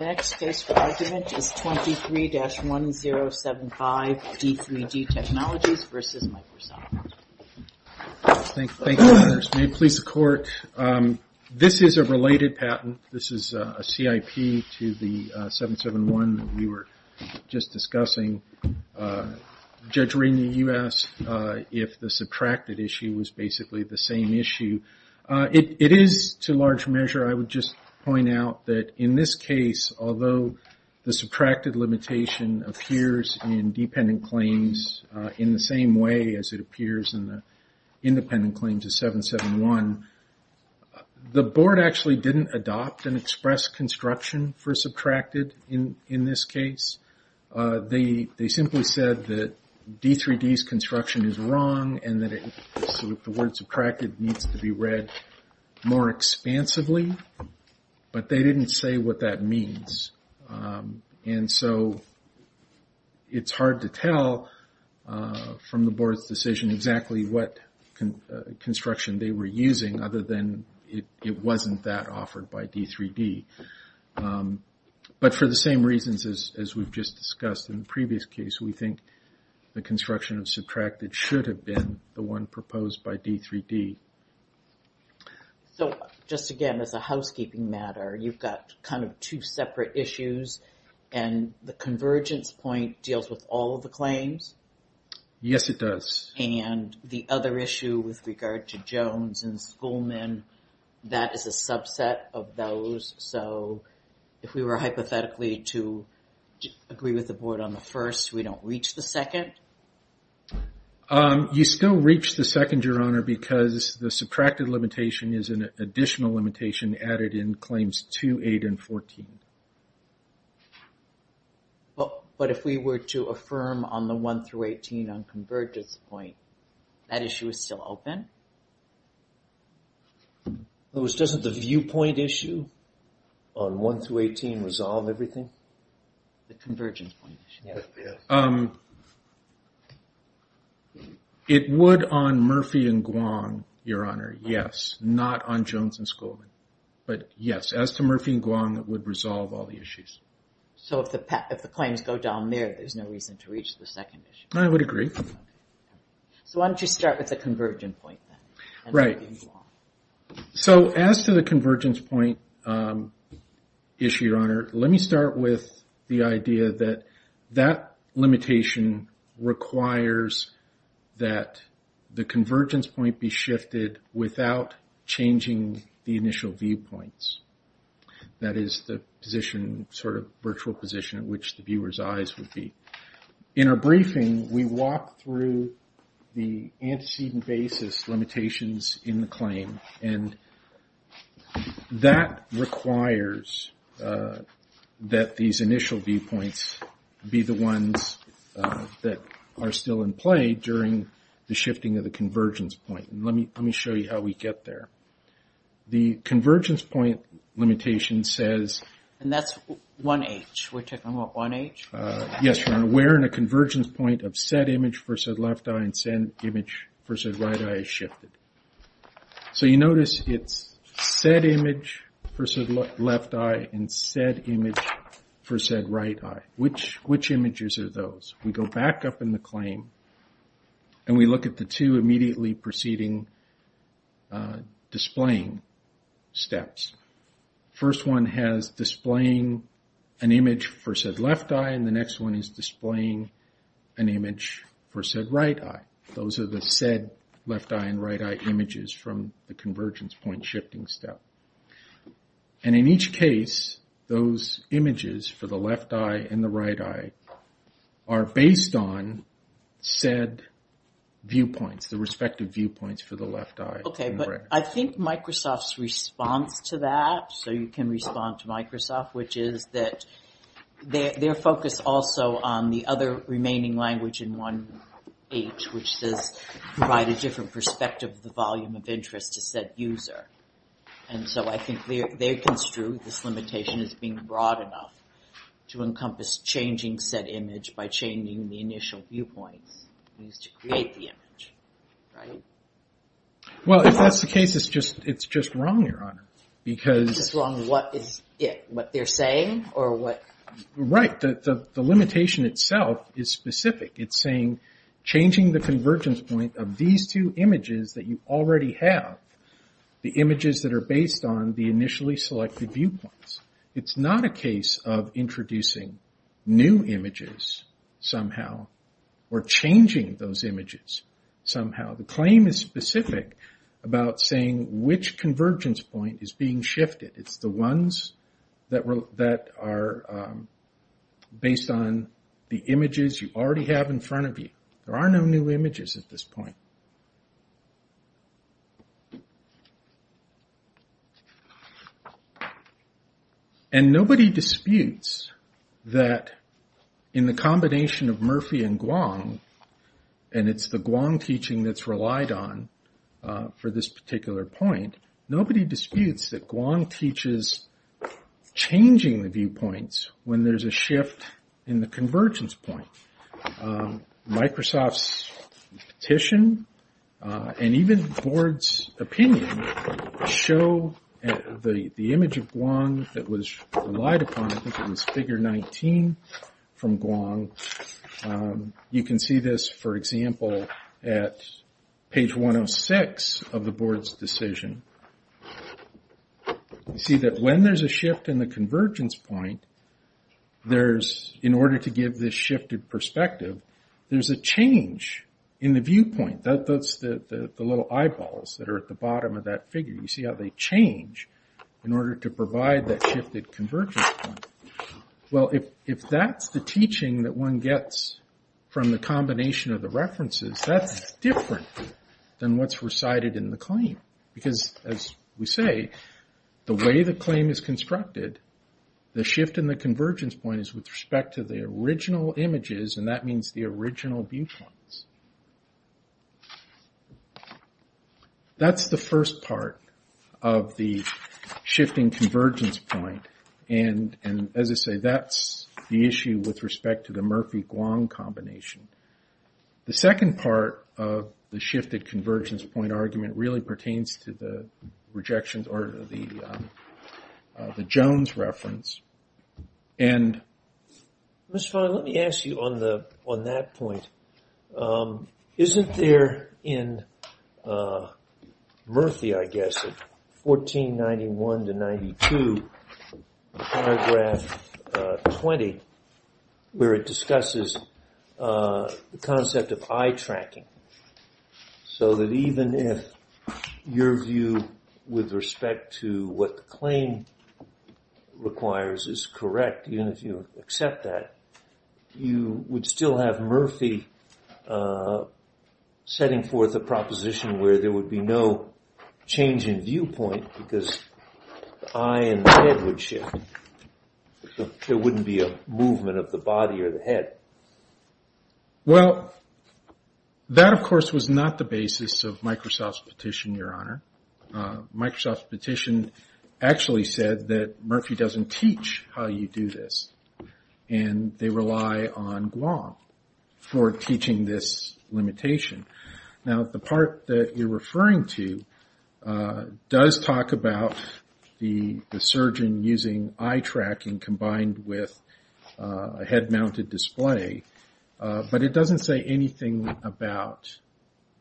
Next case for argument is 23-1075, D3D Technologies v. Microsoft. Thank you. May it please the court. This is a related patent. This is a CIP to the 771 that we were just discussing. Judge Rainey, you asked if the subtracted issue was basically the same issue. It is to large measure. I would just point out that in this case, although the subtracted limitation appears in dependent claims in the same way as it appears in the independent claims of 771, the board actually didn't adopt and express construction for subtracted in this case. They simply said that D3D's construction is wrong and that the word subtracted needs to be read more expansively, but they didn't say what that means. It's hard to tell from the board's decision exactly what construction they were using other than it wasn't that offered by D3D. For the same reasons as we've just discussed in the previous case, we think the construction of subtracted should have been the one proposed by D3D. Just again, as a housekeeping matter, you've got two separate issues and the convergence point deals with all of the claims? Yes, it does. The other issue with regard to Jones and Schoolman, that is a subset of those. If we were hypothetically to agree with the board on the first, we don't reach the second? You still reach the second, Your Honor, because the subtracted limitation is an additional limitation added in Claims 2, 8, and 14. But if we were to affirm on the 1-18 on convergence point, that issue is still open? In other words, doesn't the viewpoint issue on 1-18 resolve everything? It would on Murphy and Guam, Your Honor, yes. Not on Jones and Schoolman, but yes. As to Murphy and Guam, it would resolve all the issues. So if the claims go down there, there's no reason to reach the second issue? I would agree. So why don't you start with the convergence point then? Right. So as to the convergence point issue, Your Honor, let me start with the idea that that limitation requires that the convergence point be shifted without changing the initial viewpoints. That is the position, sort of virtual position in which the viewer's eyes would be. In our briefing, we walk through the antecedent basis limitations in the claim and that requires that these initial viewpoints be the ones that are still in play during the shifting of the convergence point. Let me show you how we get there. The convergence point limitation says... And that's 1-H. We're talking about 1-H? Yes, Your Honor. We're in a convergence point of said image for said left eye and said image for said right eye is shifted. So you notice it's said image for said left eye and said image for And we look at the two immediately preceding displaying steps. First one has displaying an image for said left eye and the next one is displaying an image for said right eye. Those are the said left eye and right eye images from the convergence point shifting step. And in each case, those images for the left eye and the right eye are based on said viewpoints, the respective viewpoints for the left eye. Okay, but I think Microsoft's response to that, so you can respond to Microsoft, which is that their focus also on the other remaining language in 1-H, which does provide a different perspective of the volume of interest to said user. And so I think they construed this limitation as being broad enough to encompass changing said image by changing the initial viewpoints used to create the image, right? Well, if that's the case, it's just wrong, Your Honor. It's just wrong in what is it? What they're saying? Right. The limitation itself is specific. It's saying changing the convergence point of these two images that you already have, the images that are based on the initially selected viewpoints. It's not a case of introducing new images somehow or changing those images somehow. The claim is specific about saying which convergence point is being shifted. It's the ones that are based on the images you already have in front of you. There are no new images at this point. And nobody disputes that in the combination of Murphy and Guang, and it's the Guang teaching that's relied on for this particular point, nobody disputes that Guang teaches changing the viewpoints when there's a shift in the convergence point. Microsoft's petition and even the board's opinion show the image of Guang that was relied upon, I think it was figure 19 from Guang. You can see this, for example, at page 106 of the board's decision. You see that when there's a shift in the convergence point, in order to give this shifted perspective, there's a change in the viewpoint. That's the little eyeballs that are at the bottom of that figure. You see how they change in order to provide that shifted convergence point. Well, if that's the teaching that one gets from the combination of the references, that's different than what's recited in the claim. Because as we say, the way the claim is constructed, the shift in the convergence point is with respect to the original images, and that means the original viewpoints. That's the first part of the shifting convergence point, and as I say, that's the issue with respect to the Murphy-Guang combination. The second part of the shifted convergence point argument really pertains to the Jones reference. Mr. Fein, let me ask you on that point. Isn't there in Murphy, I guess, in 1491-92, paragraph 20, where it discusses the concept of eye tracking, so that even if your view with respect to what the claim requires is correct, even if you accept that, you would still have Murphy setting forth a proposition where there would be no change in viewpoint because the eye and the head would shift. There wouldn't be a movement of the body or the head. Well, that of course was not the basis of Microsoft's petition, Your Honor. Microsoft's petition actually said that Murphy doesn't teach how you do this, and they rely on Guam for teaching this limitation. Now, the part that you're referring to does talk about the way, but it doesn't say anything about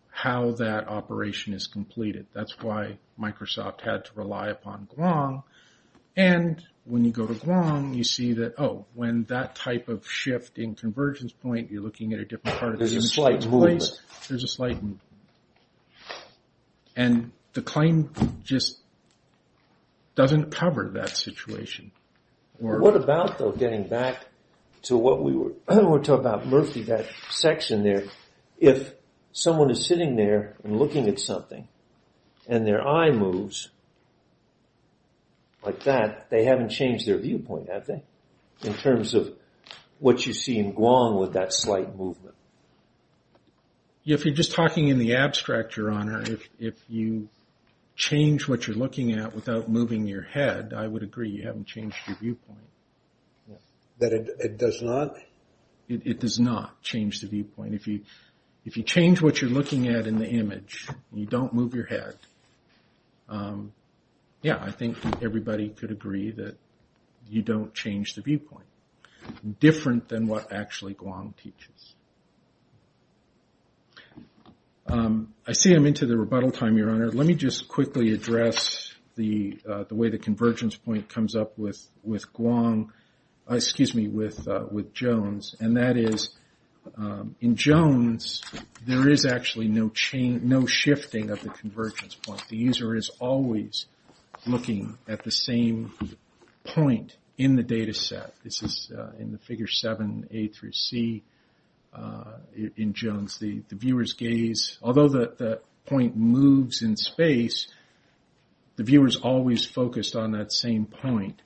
how that operation is completed. That's why Microsoft had to rely upon Guam, and when you go to Guam, you see that, oh, when that type of shift in convergence point, you're looking at a different part of the image. There's a slight movement. There's a slight movement, and the claim just doesn't cover that situation. What about, though, getting back to what we were talking about, Murphy, that section there, if someone is sitting there and looking at something, and their eye moves like that, they haven't changed their viewpoint, have they, in terms of what you see in Guam with that slight movement? If you're just talking in the abstract, Your Honor, if you change what you're looking at without moving your head, I would agree you haven't changed your viewpoint. That it does not? It does not change the viewpoint. If you change what you're looking at in the image, and you don't move your head, yeah, I think everybody could agree that you don't change the viewpoint, different than what actually Guam teaches. I see I'm into the rebuttal time, Your Honor. Let me just quickly address the way the convergence point comes up with Guam, excuse me, with Jones. And that is, in Jones, there is actually no shifting of the convergence point. The user is always looking at the same point in the data set. This is in the figure seven, A through C, in Jones. The viewer's gaze, although the point moves in space, the viewer's always focused on that same point,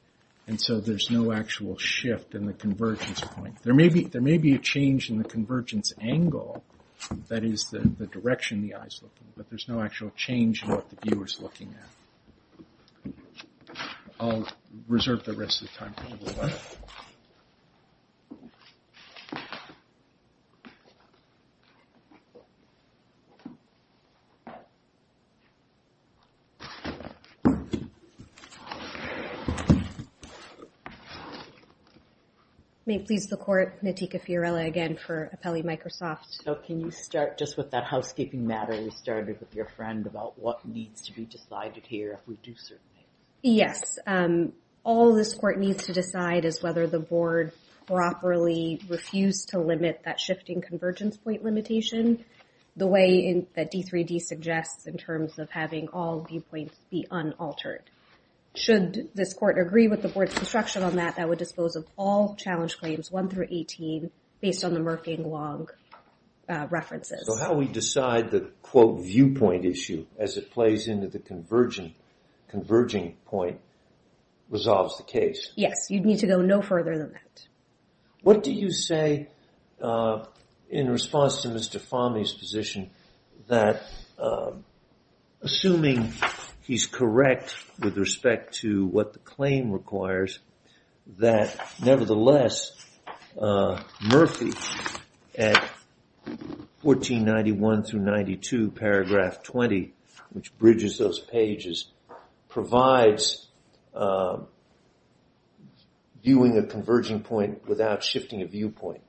and so there's no actual shift in the convergence point. There may be a change in the convergence angle, that is, the direction the eye's looking, but there's no actual change in what the viewer's looking at. I'll reserve the rest of the time for a little while. May it please the Court, Nitika Fiorella again for Appelli Microsoft. So can you start just with that housekeeping matter you started with your friend about what needs to be decided here if we do certain things? Yes. All this Court needs to decide is whether the Board properly refused to limit that shifting convergence point limitation the way that D3D suggests in terms of having all viewpoints be unaltered. Should this Court agree with the Board's construction on that, that would dispose of all challenge claims one through 18 based on the Merkang-Wong references. So how we decide the, quote, viewpoint issue as it plays into the converging point resolves the case? Yes. You'd need to go no further than that. What do you say in response to Mr. Fahmy's position that, assuming he's correct with respect to what the claim requires, that nevertheless Murphy at 1491 through 92 paragraph 20, which bridges those pages, provides viewing a converging point without shifting a viewpoint?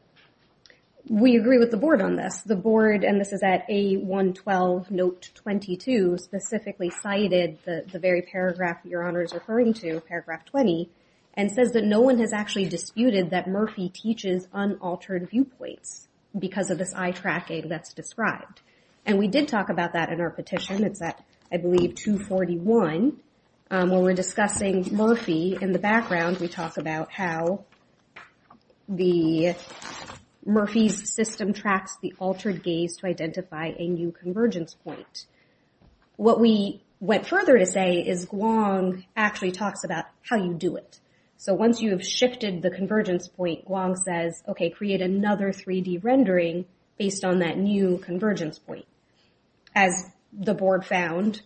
We agree with the Board on this. The Board, and this is at A112 note 22, specifically cited the very paragraph Your Honor is referring to, paragraph 20, and says that no one has actually disputed that Murphy teaches unaltered viewpoints because of this eye tracking that's described. And we did talk about that in our petition. It's at, I believe, 241. When we're discussing Murphy in the background, we talk about how the, Murphy's system tracks the altered gaze to identify a new convergence point. What we went further to say is Wong actually talks about how you do it. So once you have shifted the convergence point, Wong says, okay, create another 3D rendering based on that new convergence point. As the Board found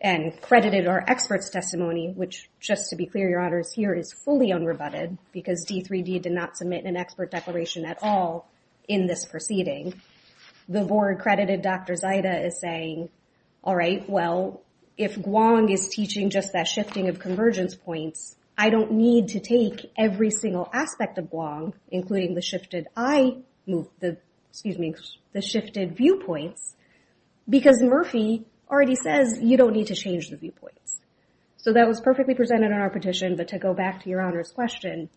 and credited our experts' testimony, which just to be clear, Your Honors, here is fully unrebutted because D3D did not submit an expert declaration at all in this proceeding. The Board credited Dr. Zaida as saying, all right, well, if Wong is teaching just that shifting of convergence points, I don't need to take every single aspect of Wong, including the shifted eye, excuse me, the shifted viewpoints, because Murphy already says you don't need to change the viewpoints. So that was perfectly presented in our petition, but to go back to Your Honors' question,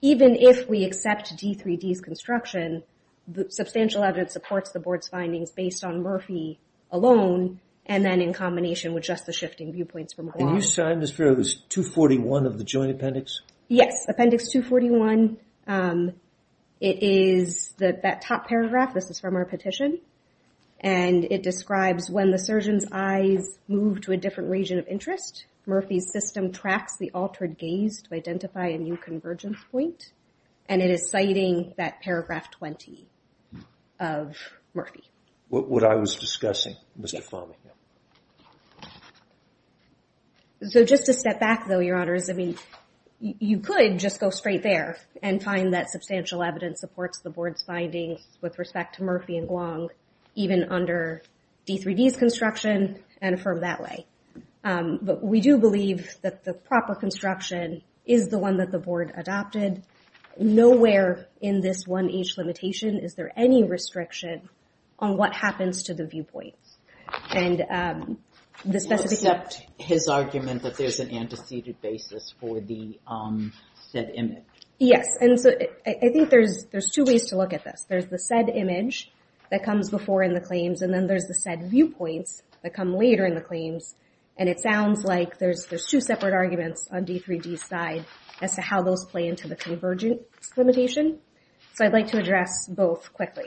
even if we accept D3D's construction, the substantial evidence supports the Board's findings based on Murphy alone, and then in combination with just the shifting viewpoints from Wong. Can you sign this for us, 241 of the Joint Appendix? Yes, Appendix 241. It is that top paragraph, this is from our petition, and it describes when the surgeon's in a different region of interest, Murphy's system tracks the altered gaze to identify a new convergence point, and it is citing that paragraph 20 of Murphy. What I was discussing, Mr. Fahmy. So just to step back, though, Your Honors, I mean, you could just go straight there and find that substantial evidence supports the Board's findings with respect to Murphy and But we do believe that the proper construction is the one that the Board adopted. Nowhere in this 1H limitation is there any restriction on what happens to the viewpoints. And the specific... Except his argument that there's an antecedent basis for the said image. Yes, and so I think there's two ways to look at this. There's the said image that comes before in the claims, and then there's the said viewpoints that come later in the claims. And it sounds like there's two separate arguments on D3D's side as to how those play into the convergence limitation. So I'd like to address both quickly.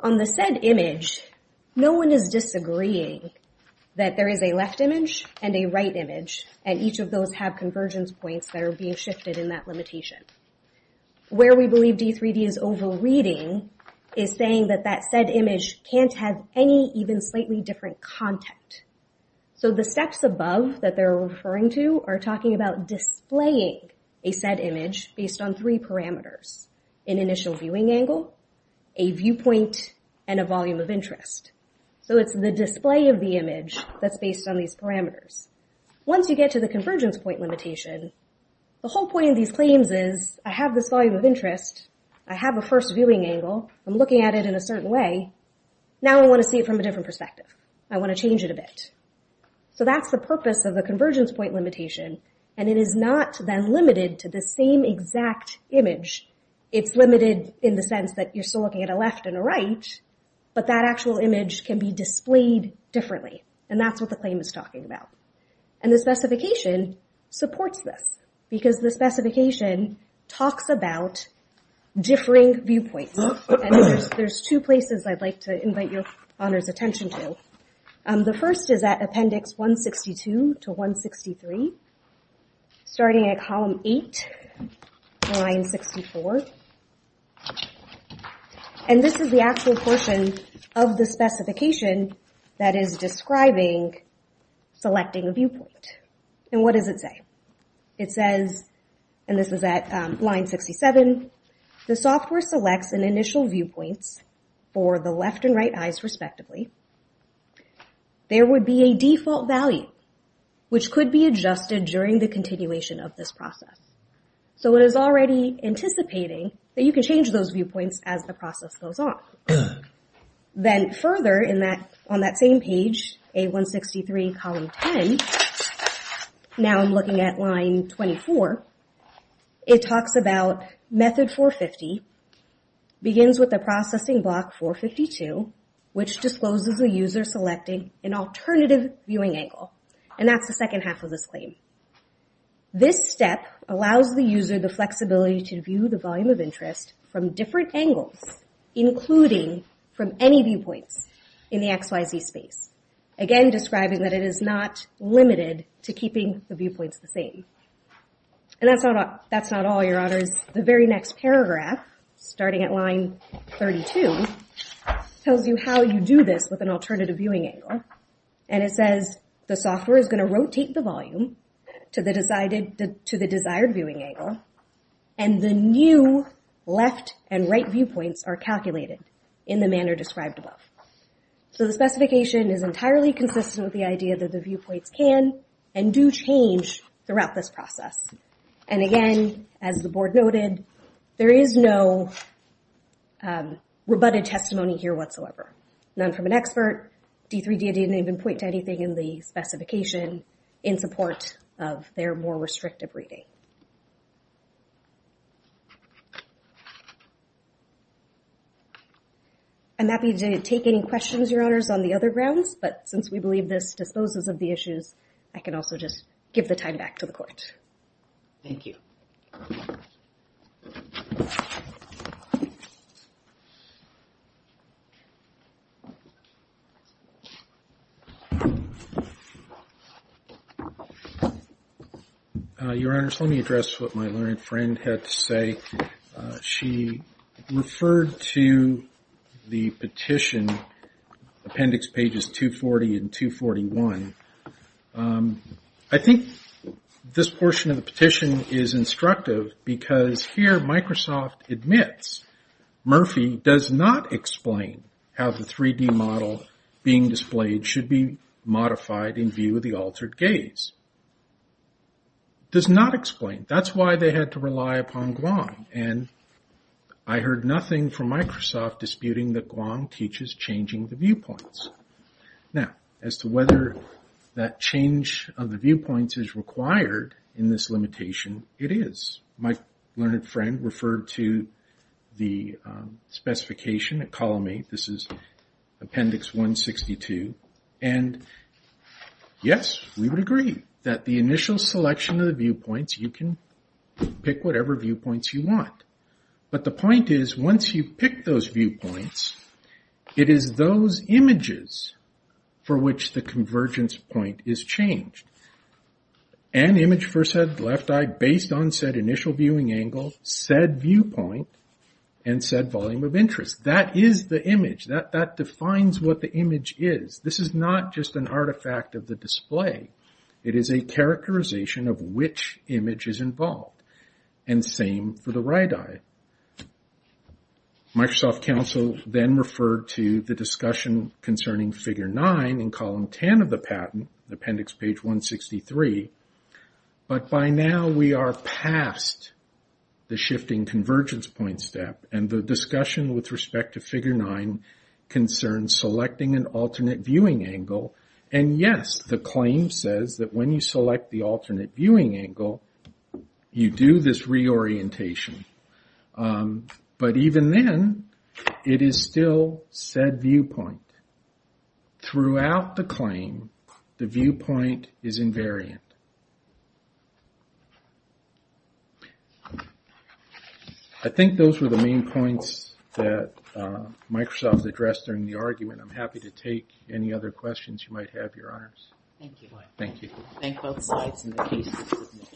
On the said image, no one is disagreeing that there is a left image and a right image, and each of those have convergence points that are being shifted in that limitation. Where we believe D3D is overreading is saying that that said image can't have any even slightly different content. So the steps above that they're referring to are talking about displaying a said image based on three parameters. An initial viewing angle, a viewpoint, and a volume of interest. So it's the display of the image that's based on these parameters. Once you get to the convergence point limitation, the whole point of these claims is I have this volume of interest, I have a first viewing angle, I'm looking at it in a certain way. Now I want to see it from a different perspective. I want to change it a bit. So that's the purpose of the convergence point limitation, and it is not then limited to the same exact image. It's limited in the sense that you're still looking at a left and a right, but that actual image can be displayed differently. And that's what the claim is talking about. And the specification supports this, because the specification talks about differing viewpoints. There's two places I'd like to invite your honors attention to. The first is at appendix 162 to 163, starting at column 8, line 64. And this is the actual portion of the specification that is describing selecting a viewpoint. And what does it say? It says, and this is at line 67, the software selects an initial viewpoint for the left and right eyes respectively. There would be a default value, which could be adjusted during the continuation of this process. So it is already anticipating that you can change those viewpoints as the process goes on. Then further on that same page, A163, column 10, now I'm looking at line 24, it talks about method 450, begins with the processing block 452, which discloses the user selecting an alternative viewing angle. And that's the second half of this claim. This step allows the user the flexibility to view the volume of interest from different angles, including from any viewpoints in the XYZ space. Again, describing that it is not limited to keeping the viewpoints the same. And that's not all, your honors. The very next paragraph, starting at line 32, tells you how you do this with an alternative viewing angle. And it says, the software is going to rotate the volume to the desired viewing angle, and the new left and right viewpoints are calculated in the manner described above. So the specification is entirely consistent with the idea that the viewpoints can and do change throughout this process. And again, as the board noted, there is no rebutted testimony here whatsoever. None from an expert, D3D didn't even point to anything in the specification in support of their more restrictive reading. I'm happy to take any questions, your honors, on the other grounds. But since we believe this disposes of the issues, I can also just give the time back to the court. Thank you. Your honors, let me address what my learned friend had to say. She referred to the petition, appendix pages 240 and 241. I think this portion of the petition is instructive because here Microsoft admits, Murphy does not explain how the 3D model being displayed should be modified in view of the altered gaze. Does not explain. That's why they had to rely upon Guang, and I heard nothing from Microsoft disputing that Guang teaches changing the viewpoints. Now, as to whether that change of the viewpoints is required in this limitation, it is. My learned friend referred to the specification at column 8. This is appendix 162. And yes, we would agree that the initial selection of the viewpoints, you can pick whatever viewpoints you want. But the point is, once you pick those viewpoints, it is those images for which the convergence point is changed. An image for said left eye based on said initial viewing angle, said viewpoint, and said volume of interest. That is the image. That defines what the image is. This is not just an artifact of the display. It is a characterization of which image is involved. And same for the right eye. Microsoft counsel then referred to the discussion concerning figure 9 in column 10 of the patent, appendix page 163. But by now we are past the shifting convergence point step. And the discussion with respect to figure 9 concerns selecting an alternate viewing angle. And yes, the claim says that when you select the alternate viewing angle, you do this reorientation. But even then, it is still said viewpoint. Throughout the claim, the viewpoint is invariant. I think those were the main points that Microsoft addressed during the argument. I'm happy to take any other questions you might have, Your Honors. Thank you. Thank you. Thank both sides in the case.